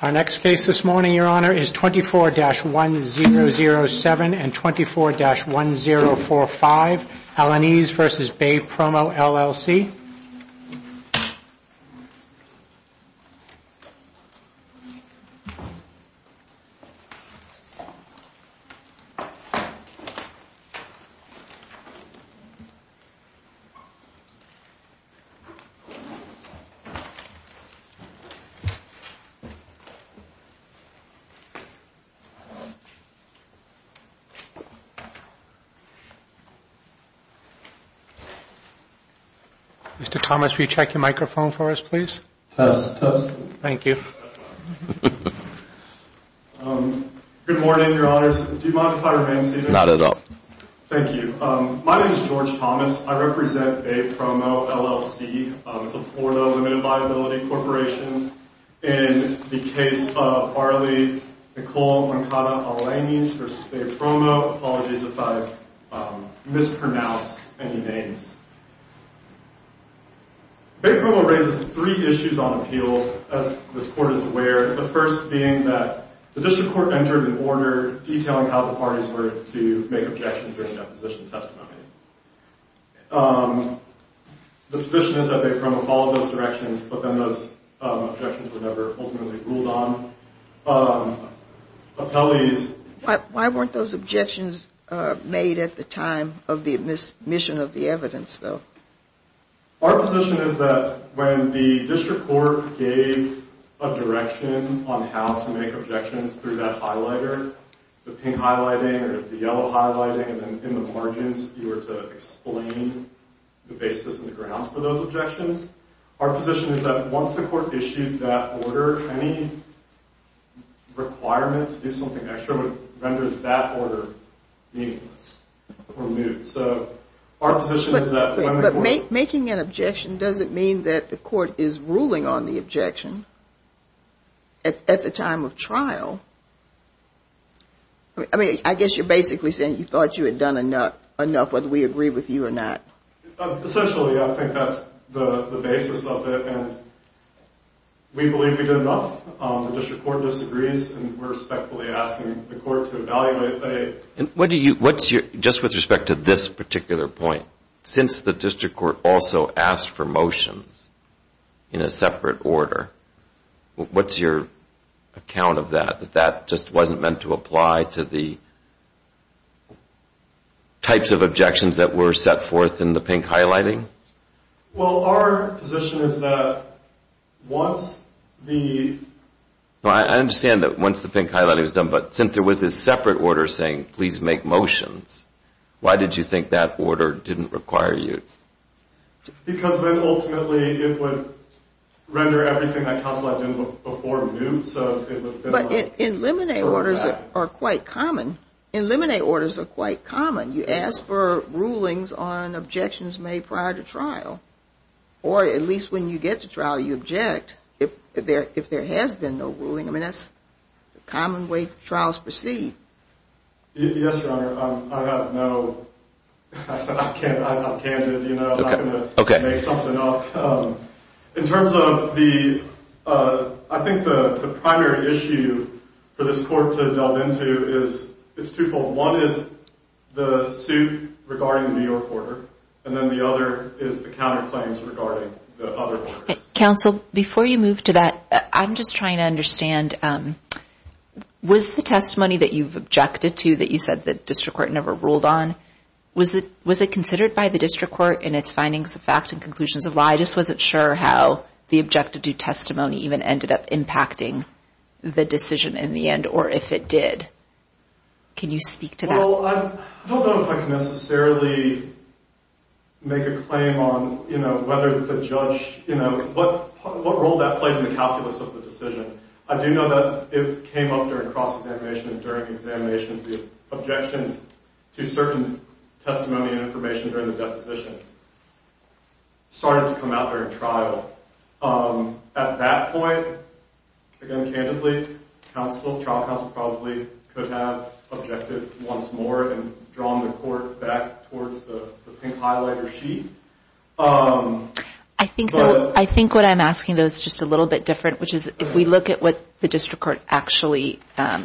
Our next case this morning, Your Honor, is 24-1007 and 24-1045 Alaniz v. Bay Promo, LLC Mr. Thomas, will you check your microphone for us, please? Test, test. Thank you. Good morning, Your Honors. Do you mind if I remain seated? Not at all. Thank you. My name is George Thomas. I represent Bay Promo, LLC. It's a Florida limited liability corporation. In the case of Arlie Nicole Moncada Alaniz v. Bay Promo, apologies if I've mispronounced any names. Bay Promo raises three issues on appeal, as this Court is aware, the first being that the District Court entered an order detailing how the parties were to make objections during deposition testimony. The position is that Bay Promo followed those directions, but then those objections were never ultimately ruled on. Why weren't those objections made at the time of the admission of the evidence, though? Our position is that when the District Court gave a direction on how to make objections through that highlighter, the pink highlighting or the yellow highlighting, and then in the margins you were to explain the basis and the grounds for those objections. Our position is that once the Court issued that order, any requirement to do something extra would render that order meaningless or moot. But making an objection doesn't mean that the Court is ruling on the objection at the time of trial. I guess you're basically saying you thought you had done enough, whether we agree with you or not. Essentially, I think that's the basis of it, and we believe we did enough. The District Court disagrees, and we're respectfully asking the Court to evaluate. Just with respect to this particular point, since the District Court also asked for motions in a separate order, what's your account of that, that that just wasn't meant to apply to the types of objections that were set forth in the pink highlighting? Well, our position is that once the… I understand that once the pink highlighting was done, but since there was this separate order saying, please make motions, why did you think that order didn't require you? Because then ultimately it would render everything I calculated before moot. But eliminate orders are quite common. Eliminate orders are quite common. You ask for rulings on objections made prior to trial. Or at least when you get to trial, you object if there has been no ruling. I mean, that's the common way trials proceed. Yes, Your Honor. I have no… I'm candid. I'm not going to make something up. In terms of the… I think the primary issue for this Court to delve into is… It's twofold. One is the suit regarding the New York order, and then the other is the counterclaims regarding the other orders. Counsel, before you move to that, I'm just trying to understand, was the testimony that you've objected to that you said the district court never ruled on, was it considered by the district court in its findings of fact and conclusions of lie? I just wasn't sure how the objected to testimony even ended up impacting the decision in the end, or if it did. Can you speak to that? Well, I don't know if I can necessarily make a claim on whether the judge… What role that played in the calculus of the decision. I do know that it came up during cross-examination and during examinations. The objections to certain testimony and information during the depositions started to come out during trial. At that point, again, candidly, trial counsel probably could have objected once more and drawn the Court back towards the pink highlighter sheet. I think what I'm asking, though, is just a little bit different, which is if we look at what the district court actually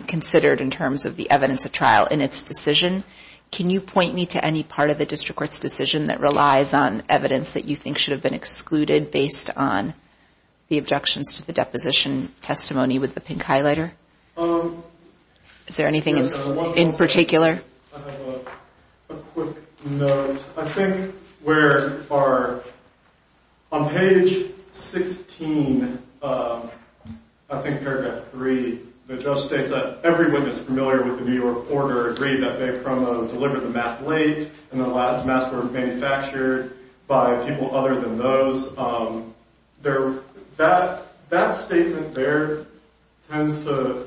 considered in terms of the evidence of trial in its decision, can you point me to any part of the district court's decision that relies on evidence that you think should have been excluded based on the objections to the deposition testimony with the pink highlighter? Is there anything in particular? I have a quick note. I think where on page 16, I think paragraph 3, the judge states that everyone that's familiar with the New York Order agreed that they promote and the labs and masks were manufactured by people other than those. That statement there tends to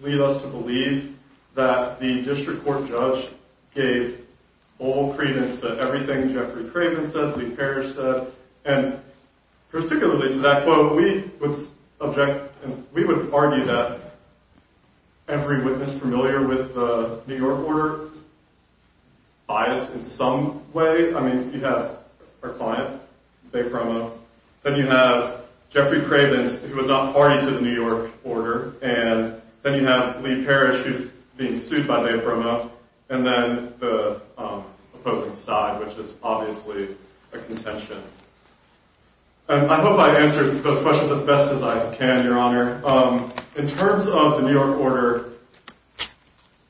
lead us to believe that the district court judge gave full credence to everything Jeffrey Craven said, Lee Parrish said, and particularly to that quote, we would argue that every witness familiar with the New York Order is biased in some way. I mean, you have our client, they promote. Then you have Jeffrey Craven, who was not party to the New York Order, and then you have Lee Parrish, who's being sued by they promote, and then the opposing side, which is obviously a contention. I hope I answered those questions as best as I can, Your Honor. In terms of the New York Order,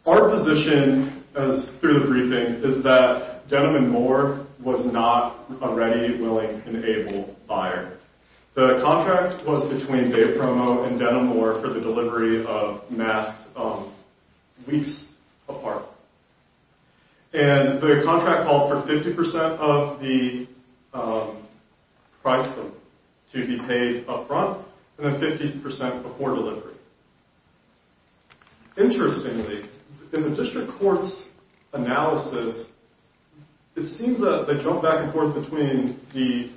our position through the briefing is that Denham & Moore was not a ready, willing, and able buyer. The contract was between they promote and Denham & Moore for the delivery of masks weeks apart. The contract called for 50% of the price to be paid up front, and then 50% before delivery. Interestingly, in the district court's analysis, it seems that they jump back and forth between the,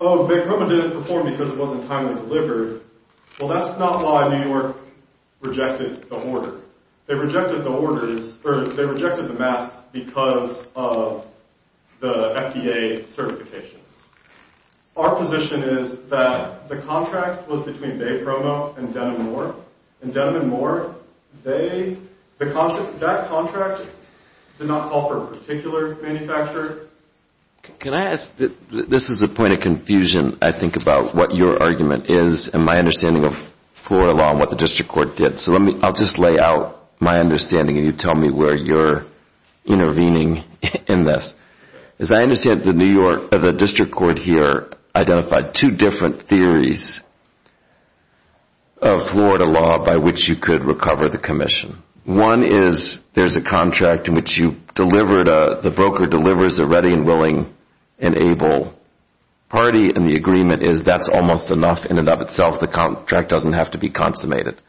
oh, they promoted it before because it wasn't timely delivered. Well, that's not why New York rejected the order. They rejected the orders, or they rejected the masks because of the FDA certifications. Our position is that the contract was between they promote and Denham & Moore, and Denham & Moore, that contract did not call for a particular manufacturer. Can I ask? This is a point of confusion, I think, about what your argument is and my understanding of Florida law and what the district court did. So I'll just lay out my understanding, and you tell me where you're intervening in this. As I understand it, the district court here identified two different theories of Florida law by which you could recover the commission. One is there's a contract in which the broker delivers a ready and willing and able party, and the agreement is that's almost enough in and of itself. The contract doesn't have to be consummated.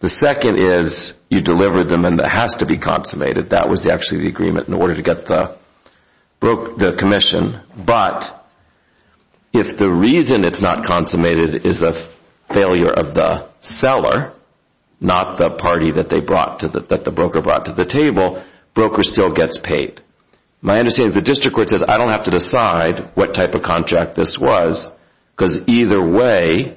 The second is you deliver them and it has to be consummated. That was actually the agreement in order to get the commission. But if the reason it's not consummated is a failure of the seller, not the party that the broker brought to the table, broker still gets paid. My understanding is the district court says, I don't have to decide what type of contract this was because either way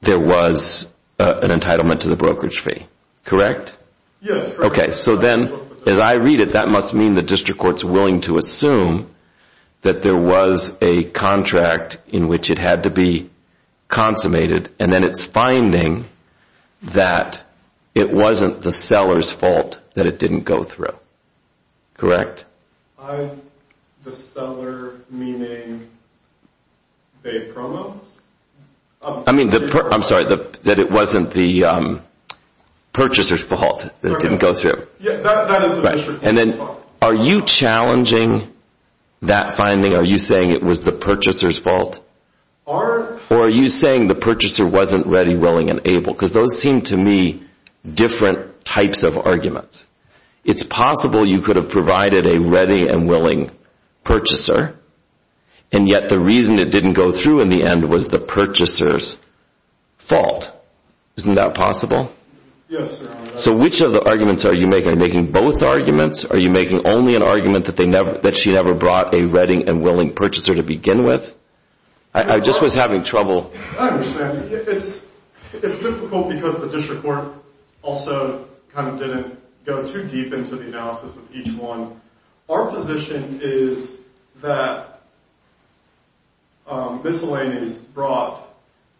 there was an entitlement to the brokerage fee. Correct? Yes. So then as I read it, that must mean the district court's willing to assume that there was a contract in which it had to be consummated, and then it's finding that it wasn't the seller's fault that it didn't go through. Correct? The seller meaning they promised? I mean, I'm sorry, that it wasn't the purchaser's fault that it didn't go through. That is the district court's fault. Are you challenging that finding? Are you saying it was the purchaser's fault? Or are you saying the purchaser wasn't ready, willing, and able? Because those seem to me different types of arguments. It's possible you could have provided a ready and willing purchaser, and yet the reason it didn't go through in the end was the purchaser's fault. Isn't that possible? Yes. So which of the arguments are you making? Are you making both arguments? Are you making only an argument that she never brought a ready and willing purchaser to begin with? I just was having trouble. I understand. It's difficult because the district court also kind of didn't go too deep into the analysis of each one. Our position is that Miscellanies brought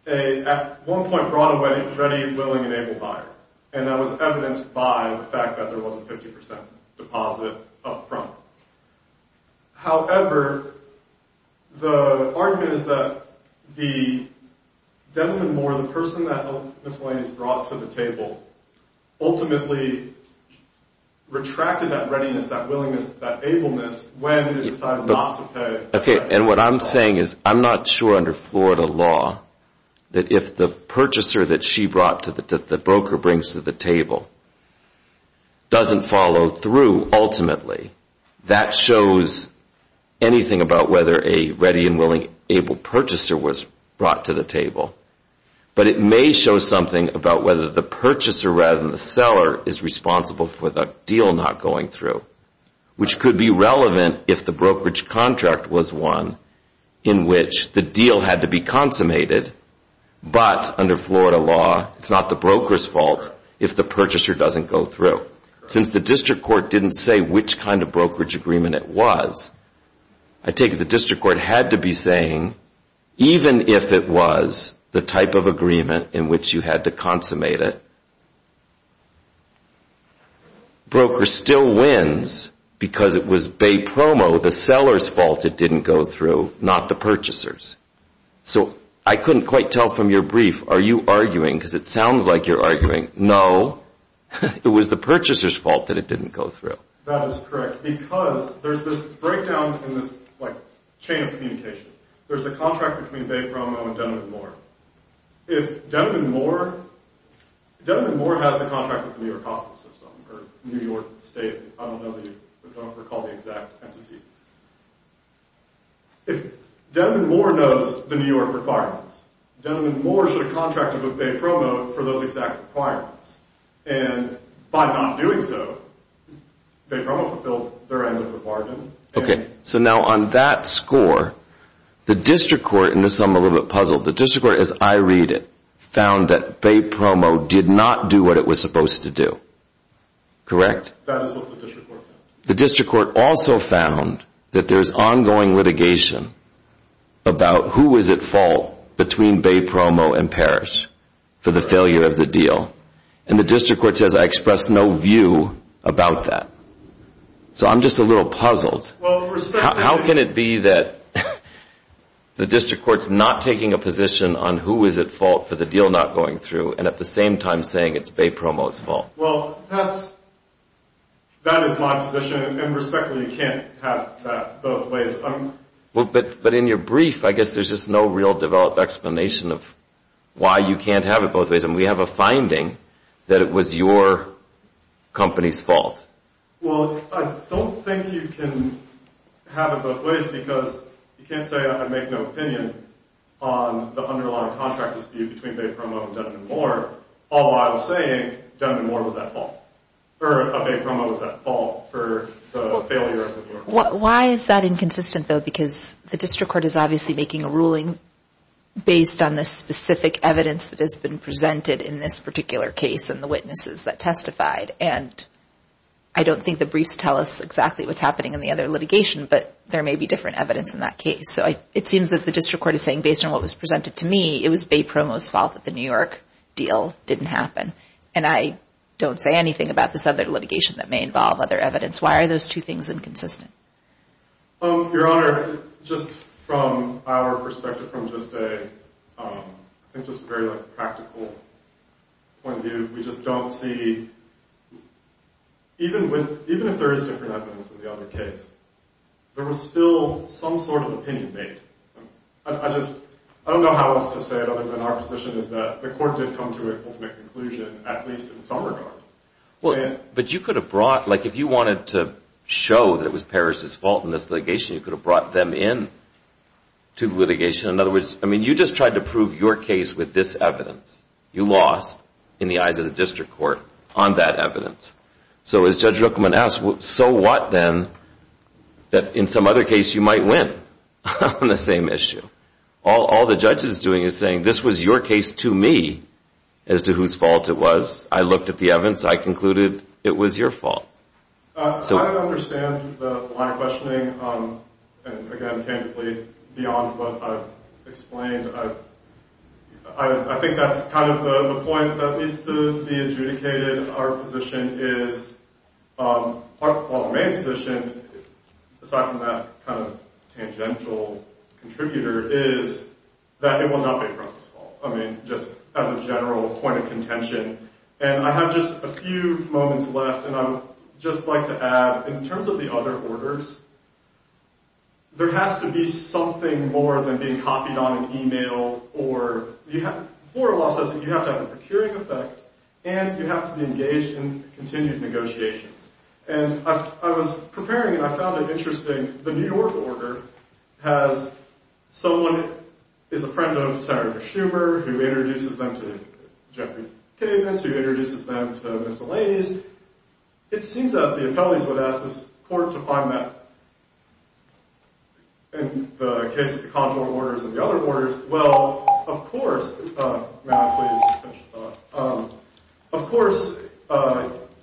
a, at one point brought a ready, willing, and able buyer, and that was evidenced by the fact that there was a 50% deposit up front. However, the argument is that the Devin Moore, the person that Miscellanies brought to the table, ultimately retracted that readiness, that willingness, that ableness when they decided not to pay. Okay, and what I'm saying is I'm not sure under Florida law that if the purchaser that she brought, that the broker brings to the table, doesn't follow through ultimately. That shows anything about whether a ready and willing, able purchaser was brought to the table. But it may show something about whether the purchaser rather than the seller is responsible for the deal not going through, which could be relevant if the brokerage contract was one in which the deal had to be consummated, but under Florida law it's not the broker's fault if the purchaser doesn't go through. Since the district court didn't say which kind of brokerage agreement it was, I take it the district court had to be saying, even if it was the type of agreement in which you had to consummate it, broker still wins because it was bay promo, the seller's fault it didn't go through, not the purchaser's. So I couldn't quite tell from your brief, are you arguing, because it sounds like you're arguing, no, it was the purchaser's fault that it didn't go through. That is correct, because there's this breakdown in this chain of communication. There's a contract between bay promo and Denman Moore. If Denman Moore has a contract with the New York hospital system, or New York state, I don't recall the exact entity. If Denman Moore knows the New York requirements, Denman Moore should have contracted with bay promo for those exact requirements. And by not doing so, bay promo fulfilled their end of the bargain. Okay, so now on that score, the district court, and this is something I'm a little bit puzzled, the district court, as I read it, found that bay promo did not do what it was supposed to do. Correct? That is what the district court found. The district court also found that there's ongoing litigation about who was at fault between bay promo and Parrish for the failure of the deal. And the district court says I express no view about that. So I'm just a little puzzled. How can it be that the district court's not taking a position on who is at fault for the deal not going through, and at the same time saying it's bay promo's fault? Well, that is my position. And respectfully, you can't have that both ways. But in your brief, I guess there's just no real developed explanation of why you can't have it both ways. And we have a finding that it was your company's fault. Well, I don't think you can have it both ways because you can't say I make no opinion on the underlying contract dispute between bay promo and Dun & Moore all while saying Dun & Moore was at fault, or bay promo was at fault for the failure of the deal. Why is that inconsistent, though? Because the district court is obviously making a ruling based on the specific evidence that has been presented in this particular case and the witnesses that testified. And I don't think the briefs tell us exactly what's happening in the other litigation, but there may be different evidence in that case. So it seems that the district court is saying, based on what was presented to me, it was bay promo's fault that the New York deal didn't happen. And I don't say anything about this other litigation that may involve other evidence. Why are those two things inconsistent? Your Honor, just from our perspective, from just a very practical point of view, we just don't see, even if there is different evidence in the other case, there was still some sort of opinion made. I don't know how else to say it other than our position is that the court did come to an ultimate conclusion, at least in some regard. But you could have brought, like if you wanted to show that it was Parrish's fault in this litigation, you could have brought them in to the litigation. In other words, you just tried to prove your case with this evidence. You lost in the eyes of the district court on that evidence. So as Judge Rookman asked, so what then that in some other case you might win on the same issue? All the judge is doing is saying, this was your case to me as to whose fault it was. I looked at the evidence. I concluded it was your fault. I understand the line of questioning. And again, beyond what I've explained, I think that's kind of the point that needs to be adjudicated. Our position is, our main position, aside from that kind of tangential contributor, is that it was not Bayfront's fault. I mean, just as a general point of contention. And I have just a few moments left, and I would just like to add, in terms of the other orders, there has to be something more than being copied on an email, or the floor law says that you have to have a procuring effect, and you have to be engaged in continued negotiations. And I was preparing, and I found it interesting, the New York order has someone who is a friend of Senator Schumer, who introduces them to Jeffrey Kavins, who introduces them to Ms. Delaney's. It seems that the appellees would ask this court to find that. In the case of the conjugal orders and the other orders, well, of course, may I please finish? Of course,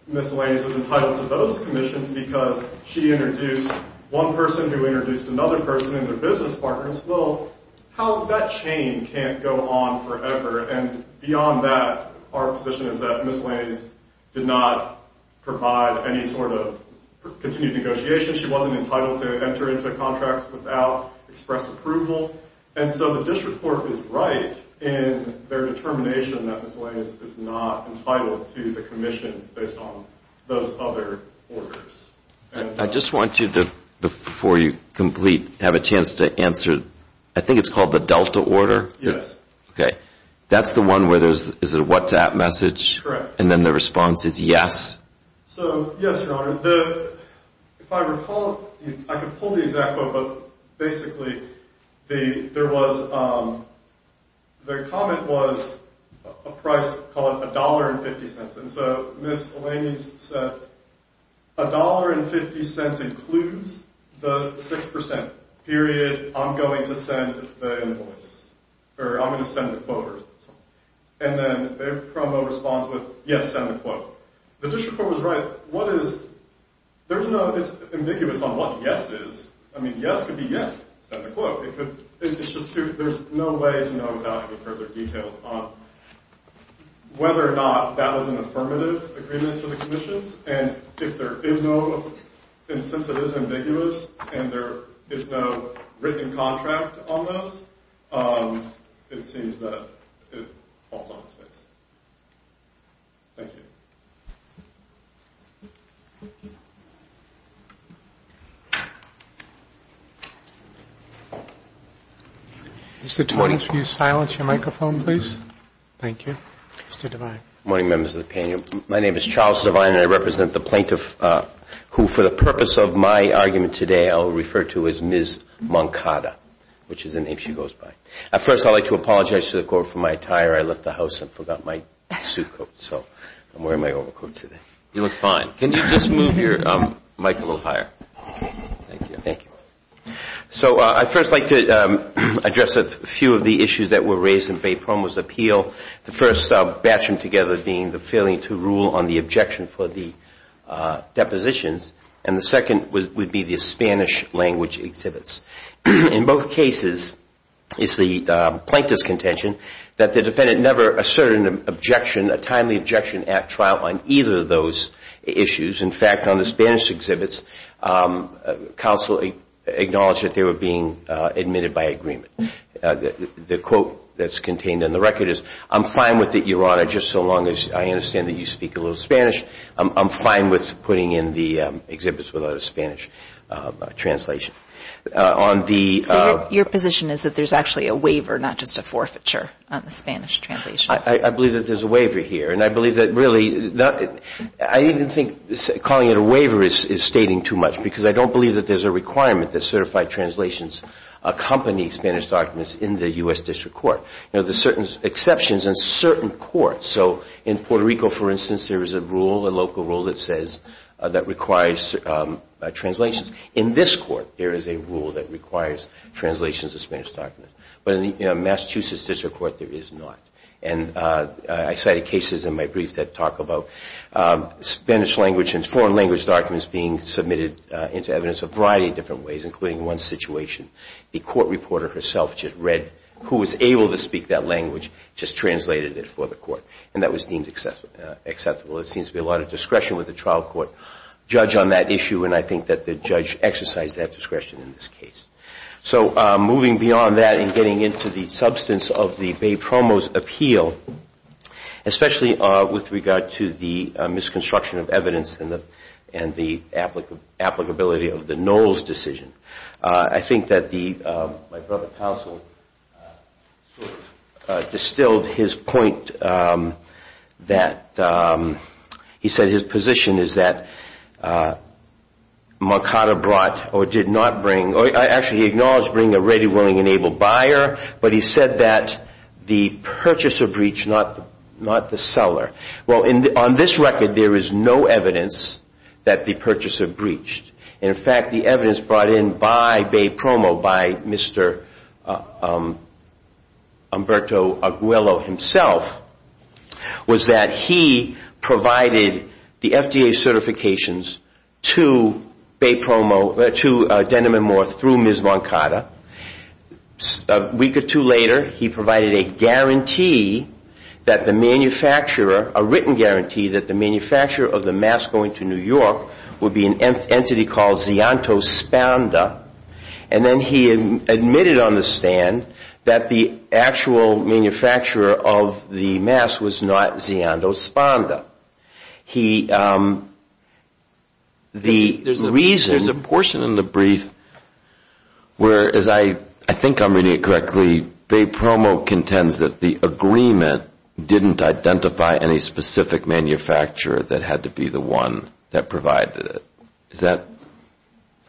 Ms. Delaney's is entitled to those commissions because she introduced one person who introduced another person and their business partners. Well, how that chain can't go on forever. And beyond that, our position is that Ms. Delaney's did not provide any sort of continued negotiation. She wasn't entitled to enter into contracts without express approval. And so the district court is right in their determination that Ms. Delaney's is not entitled to the commissions based on those other orders. I just want you to, before you complete, have a chance to answer, I think it's called the Delta order? Yes. Okay. That's the one where there's a WhatsApp message? And then the response is yes? So, yes, Your Honor. If I recall, I can pull the exact quote, but basically there was, the comment was a price called $1.50. And so Ms. Delaney's said, a $1.50 includes the 6%, period. I'm going to send the invoice, or I'm going to send the quote, or something. And then their promo responds with, yes, send the quote. The district court was right. What is, there's no, it's ambiguous on what yes is. I mean, yes could be yes, send the quote. It's just too, there's no way to know without any further details on whether or not that was an affirmative agreement to the commissions. And if there is no, and since it is ambiguous, and there is no written contract on this, it seems that it falls on its face. Thank you. Mr. Twain, could you silence your microphone, please? Thank you. Mr. Devine. Good morning, members of the panel. My name is Charles Devine, and I represent the plaintiff who, for the purpose of my argument today, I will refer to as Ms. Moncada, which is the name she goes by. First, I'd like to apologize to the court for my attire. I left the house and forgot my suit coat, so I'm wearing my overcoat today. You look fine. Can you just move your mic a little higher? Thank you. Thank you. So I'd first like to address a few of the issues that were raised in Bay Promo's appeal. The first batching together being the failing to rule on the objection for the depositions, and the second would be the Spanish language exhibits. In both cases, it's the plaintiff's contention that the defendant never asserted an objection, a timely objection at trial on either of those issues. In fact, on the Spanish exhibits, counsel acknowledged that they were being admitted by agreement. The quote that's contained in the record is, I'm fine with it, Your Honor, just so long as I understand that you speak a little Spanish. I'm fine with putting in the exhibits without a Spanish translation. So your position is that there's actually a waiver, not just a forfeiture, on the Spanish translations? I believe that there's a waiver here, and I believe that really I even think calling it a waiver is stating too much because I don't believe that there's a requirement that certified translations accompany Spanish documents in the U.S. District Court. Now, there's certain exceptions in certain courts. So in Puerto Rico, for instance, there is a rule, a local rule that says that requires translations. In this court, there is a rule that requires translations of Spanish documents. But in the Massachusetts District Court, there is not. And I cited cases in my brief that talk about Spanish language and foreign language documents being submitted into evidence a variety of different ways, including one situation. The court reporter herself just read who was able to speak that language, just translated it for the court, and that was deemed acceptable. There seems to be a lot of discretion with the trial court judge on that issue, and I think that the judge exercised that discretion in this case. So moving beyond that and getting into the substance of the Bay Promo's appeal, especially with regard to the misconstruction of evidence and the applicability of the Knowles decision, I think that my brother, Tousell, distilled his point that, he said his position is that Mercado brought or did not bring, or actually he acknowledged bringing a ready, willing, and able buyer, but he said that the purchaser breached, not the seller. Well, on this record, there is no evidence that the purchaser breached. In fact, the evidence brought in by Bay Promo, by Mr. Umberto Aguelo himself, was that he provided the FDA certifications to Bay Promo, to Denim and Moore through Ms. Mercado. A week or two later, he provided a guarantee that the manufacturer, a written guarantee, that the manufacturer of the mask going to New York would be an entity called Zianto Spanda, and then he admitted on the stand that the actual manufacturer of the mask was not Zianto Spanda. There's a portion in the brief where, as I think I'm reading it correctly, Bay Promo contends that the agreement didn't identify any specific manufacturer that had to be the one that provided it. Is that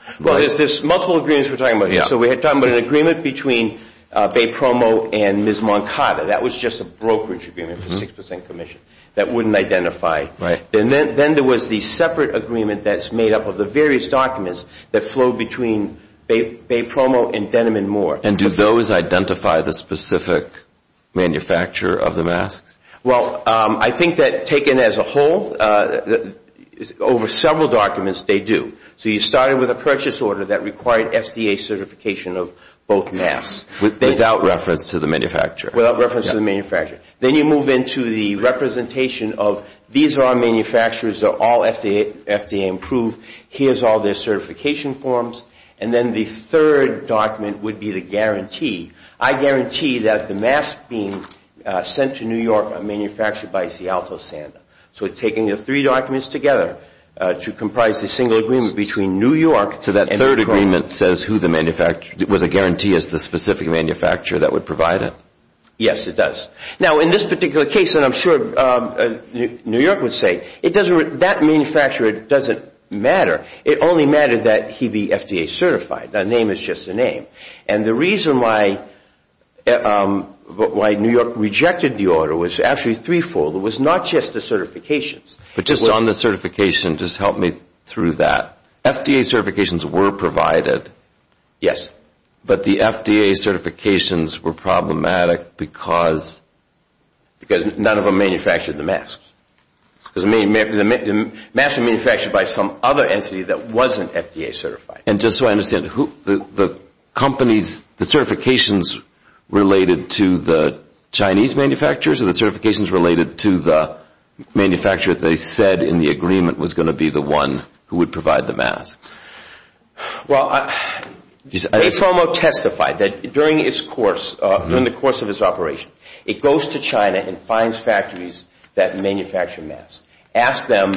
right? Well, there's multiple agreements we're talking about here. So we're talking about an agreement between Bay Promo and Ms. Mercado. That was just a brokerage agreement for 6% commission that wouldn't identify. Then there was the separate agreement that's made up of the various documents that flow between Bay Promo and Denim and Moore. And do those identify the specific manufacturer of the mask? Well, I think that taken as a whole, over several documents they do. So you started with a purchase order that required FDA certification of both masks. Without reference to the manufacturer. Without reference to the manufacturer. Then you move into the representation of these are our manufacturers. They're all FDA approved. Here's all their certification forms. And then the third document would be the guarantee. I guarantee that the masks being sent to New York are manufactured by Seattle Santa. So taking the three documents together to comprise the single agreement between New York So that third agreement was a guarantee as to the specific manufacturer that would provide it? Yes, it does. Now, in this particular case, and I'm sure New York would say, that manufacturer doesn't matter. It only mattered that he be FDA certified. The name is just the name. And the reason why New York rejected the order was actually threefold. It was not just the certifications. But just on the certification, just help me through that. FDA certifications were provided. Yes. But the FDA certifications were problematic because? Because none of them manufactured the masks. The masks were manufactured by some other entity that wasn't FDA certified. And just so I understand, the companies, the certifications related to the Chinese manufacturers or the certifications related to the manufacturer they said in the agreement was going to be the one who would provide the masks? Well, Ray Fomo testified that during the course of his operation, it goes to China and finds factories that manufacture masks, asks them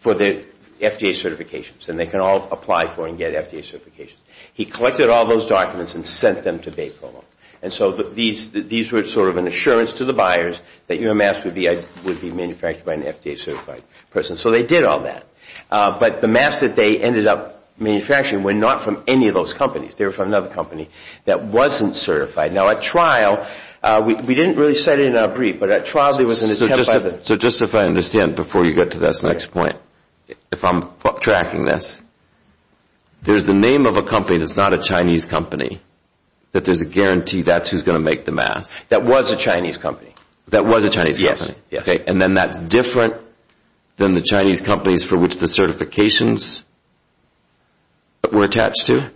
for the FDA certifications, and they can all apply for and get FDA certifications. He collected all those documents and sent them to Ray Fomo. And so these were sort of an assurance to the buyers that your mask would be manufactured by an FDA certified person. So they did all that. But the masks that they ended up manufacturing were not from any of those companies. They were from another company that wasn't certified. Now, at trial, we didn't really say it in our brief, but at trial there was an attempt by the... So just if I understand before you get to this next point, if I'm tracking this, there's the name of a company that's not a Chinese company that there's a guarantee that's who's going to make the mask. That was a Chinese company. That was a Chinese company. Yes. And then that's different than the Chinese companies for which the certifications were attached to?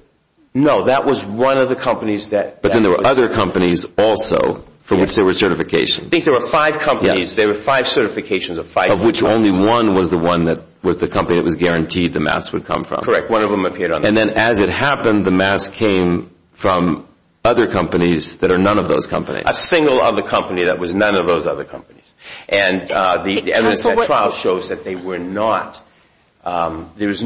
No, that was one of the companies that... But then there were other companies also for which there were certifications. I think there were five companies. Yes. There were five certifications of five... Of which only one was the one that was the company that was guaranteed the mask would come from. Correct. One of them appeared on... And then as it happened, the mask came from other companies that are none of those companies. A single other company that was none of those other companies. And the evidence at trial shows that they were not... Counsel, that's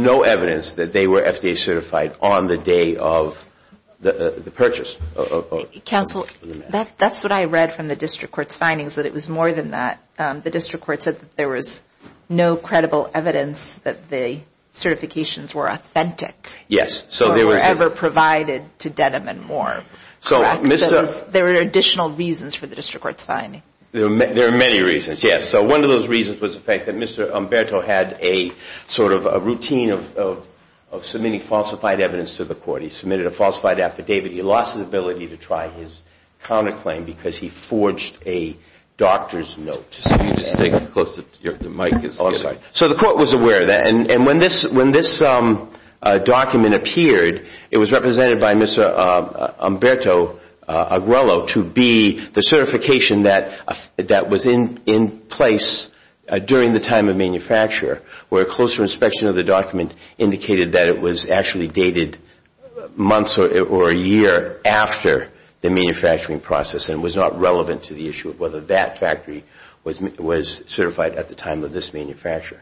what I read from the district court's findings, that it was more than that. The district court said that there was no credible evidence that the certifications were authentic. Yes. Or were ever provided to Denim and Moore. So there were additional reasons for the district court's finding. There are many reasons, yes. So one of those reasons was the fact that Mr. Umberto had a sort of a routine of submitting falsified evidence to the court. He submitted a falsified affidavit. He lost his ability to try his counterclaim because he forged a doctor's note. So you just take it close to your... the mic is... Oh, sorry. So the court was aware of that. And when this document appeared, it was represented by Mr. Umberto Aguero to be the certification that was in place during the time of manufacture. where a closer inspection of the document indicated that it was actually dated months or a year after the manufacturing process and was not relevant to the issue of whether that factory was certified at the time of this manufacture.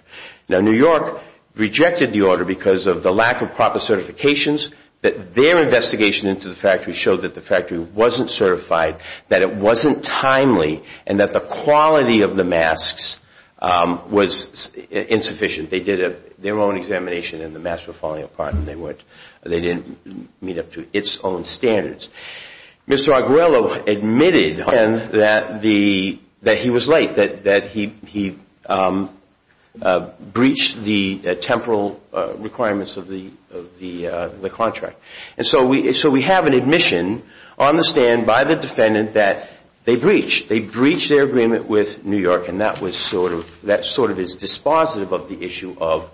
Now, New York rejected the order because of the lack of proper certifications. Their investigation into the factory showed that the factory wasn't certified, that it wasn't timely, and that the quality of the masks was insufficient. They did their own examination and the masks were falling apart. They didn't meet up to its own standards. Mr. Aguero admitted that he was late, that he breached the temporal requirements of the contract. And so we have an admission on the stand by the defendant that they breached. They breached their agreement with New York, and that sort of is dispositive of the issue of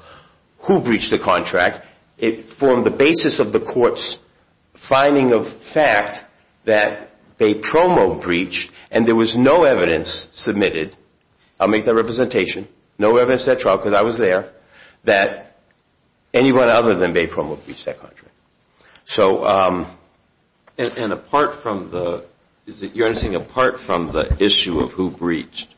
who breached the contract. It formed the basis of the court's finding of fact that Bay Promo breached, and there was no evidence submitted. I'll make that representation. No evidence to that trial because I was there that anyone other than Bay Promo breached that contract. And apart from the issue of who breached,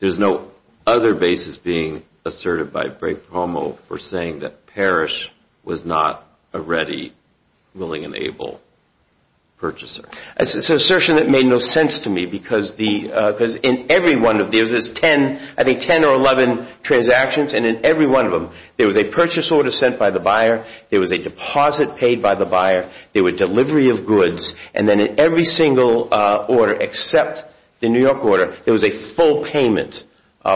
there's no other basis being asserted by Bay Promo for saying that Parrish was not a ready, willing, and able purchaser. It's an assertion that made no sense to me because in every one of these, there's 10 or 11 transactions, and in every one of them there was a purchase order sent by the buyer, there was a deposit paid by the buyer, there were delivery of goods, and then in every single order except the New York order, there was a full payment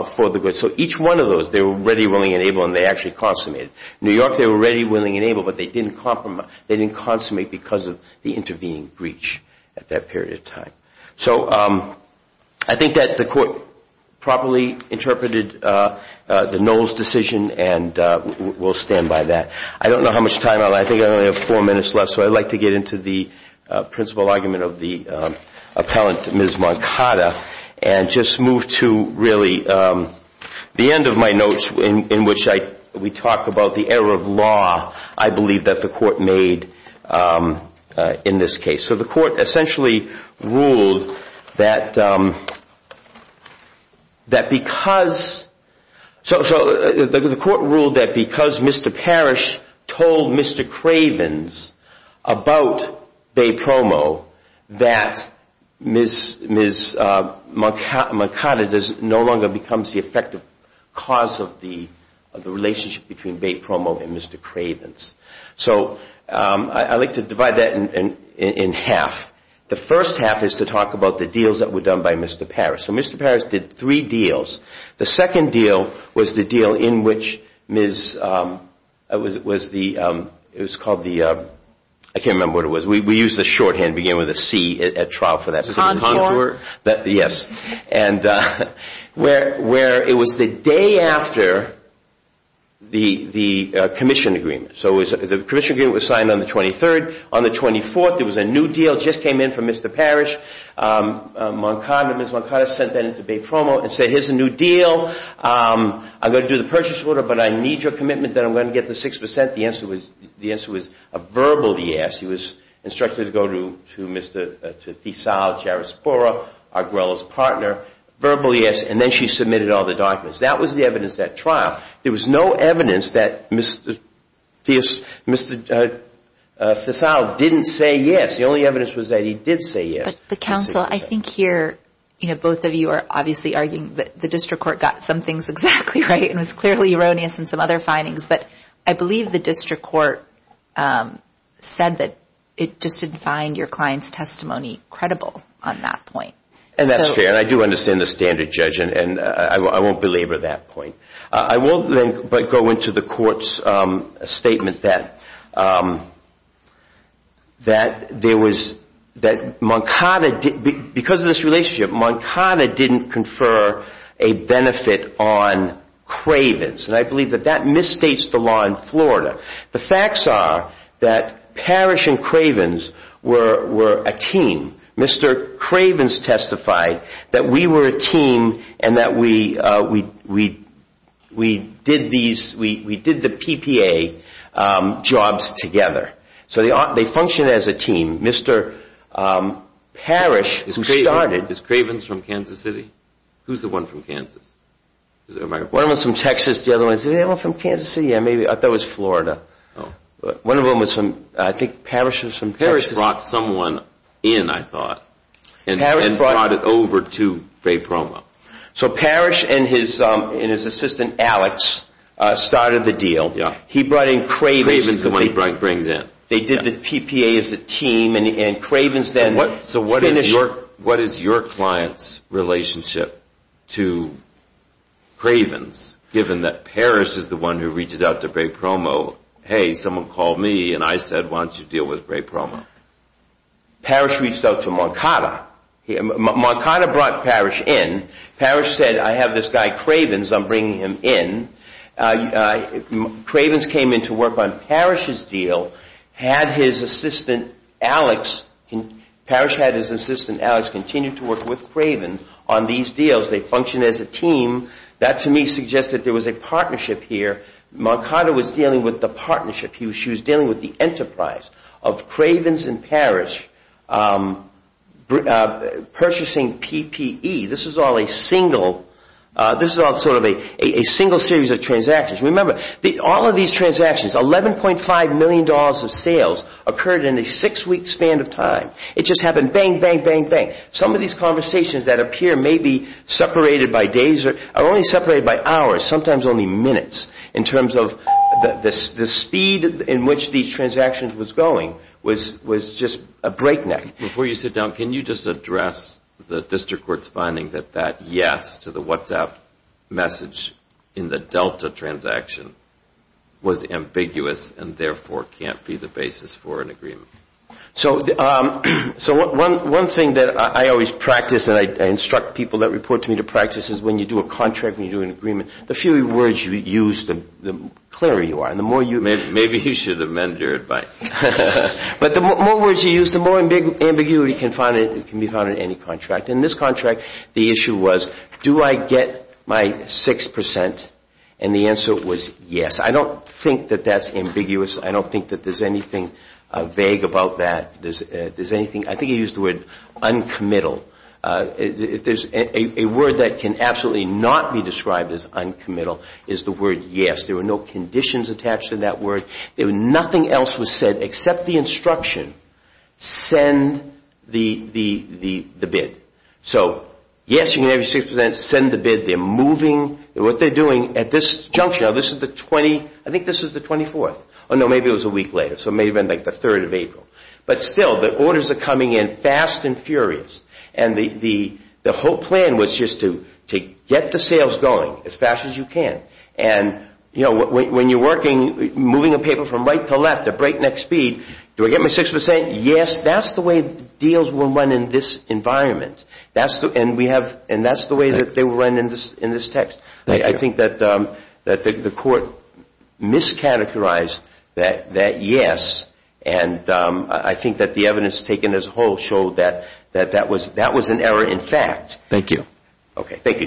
for the goods. So each one of those, they were ready, willing, and able, and they actually consummated. In New York, they were ready, willing, and able, but they didn't consummate because of the intervening breach at that period of time. So I think that the court properly interpreted the Knowles decision, and we'll stand by that. I don't know how much time I'll have. I think I only have four minutes left, so I'd like to get into the principal argument of the appellant, Ms. Moncada, and just move to really the end of my notes in which we talk about the error of law, I believe, that the court made in this case. So the court essentially ruled that because Mr. Parrish told Mr. Cravens about Bay Promo, that Ms. Moncada no longer becomes the effective cause of the relationship between Bay Promo and Mr. Cravens. So I'd like to divide that in half. The first half is to talk about the deals that were done by Mr. Parrish. So Mr. Parrish did three deals. The second deal was the deal in which Ms. – it was called the – I can't remember what it was. We used the shorthand beginning with a C at trial for that. Contour. Yes. Where it was the day after the commission agreement. So the commission agreement was signed on the 23rd. On the 24th, there was a new deal. It just came in from Mr. Parrish. Ms. Moncada sent that in to Bay Promo and said, here's the new deal. I'm going to do the purchase order, but I need your commitment that I'm going to get the 6%. The answer was a verbal yes. He was instructed to go to Mr. Thesau, Jarospora, Arguello's partner, verbal yes, and then she submitted all the documents. That was the evidence at trial. There was no evidence that Mr. Thesau didn't say yes. The only evidence was that he did say yes. But, counsel, I think here both of you are obviously arguing that the district court got some things exactly right and was clearly erroneous in some other findings. But I believe the district court said that it just didn't find your client's testimony credible on that point. And that's fair. And I do understand the standard judge, and I won't belabor that point. I won't then but go into the court's statement that there was, that Moncada, because of this relationship, Moncada didn't confer a benefit on Cravens. And I believe that that misstates the law in Florida. The facts are that Parrish and Cravens were a team. Mr. Cravens testified that we were a team and that we did the PPA jobs together. So they functioned as a team. Mr. Parrish started. Is Cravens from Kansas City? Who's the one from Kansas? One of them was from Texas. The other one, is there anyone from Kansas City? Yeah, maybe. I thought it was Florida. One of them was from, I think Parrish was from Texas. Parrish brought someone in, I thought, and brought it over to Bay Promo. So Parrish and his assistant, Alex, started the deal. He brought in Cravens. Cravens is the one he brings in. They did the PPA as a team, and Cravens then finished. What is your client's relationship to Cravens, given that Parrish is the one who reached out to Bay Promo, hey, someone call me, and I said, why don't you deal with Bay Promo? Parrish reached out to Moncada. Moncada brought Parrish in. Parrish said, I have this guy Cravens, I'm bringing him in. Cravens came in to work on Parrish's deal. Parrish had his assistant Alex continue to work with Cravens on these deals. They functioned as a team. That, to me, suggests that there was a partnership here. Moncada was dealing with the partnership. She was dealing with the enterprise of Cravens and Parrish purchasing PPE. This is all sort of a single series of transactions. Remember, all of these transactions, $11.5 million of sales, occurred in a six-week span of time. It just happened, bang, bang, bang, bang. Some of these conversations that appear maybe separated by days are only separated by hours, sometimes only minutes, in terms of the speed in which these transactions was going was just a breakneck. Before you sit down, can you just address the district court's finding that that yes to the WhatsApp message in the Delta transaction was ambiguous and therefore can't be the basis for an agreement? One thing that I always practice and I instruct people that report to me to practice is when you do a contract, when you do an agreement, the fewer words you use, the clearer you are. Maybe you should amend your advice. But the more words you use, the more ambiguity can be found in any contract. In this contract, the issue was do I get my 6%? And the answer was yes. I don't think that that's ambiguous. I don't think that there's anything vague about that. I think he used the word uncommittal. A word that can absolutely not be described as uncommittal is the word yes. There were no conditions attached to that word. Nothing else was said except the instruction, send the bid. So yes, you can have your 6%, send the bid. They're moving. What they're doing at this junction, this is the 20th. I think this is the 24th. Oh, no, maybe it was a week later. So it may have been like the 3rd of April. But still, the orders are coming in fast and furious. And the whole plan was just to get the sales going as fast as you can. And when you're working, moving a paper from right to left at breakneck speed, do I get my 6%? Yes. That's the way deals were run in this environment. And that's the way that they were run in this text. I think that the court miscategorized that yes. And I think that the evidence taken as a whole showed that that was an error in fact. Thank you. Okay. Thank you, Judge.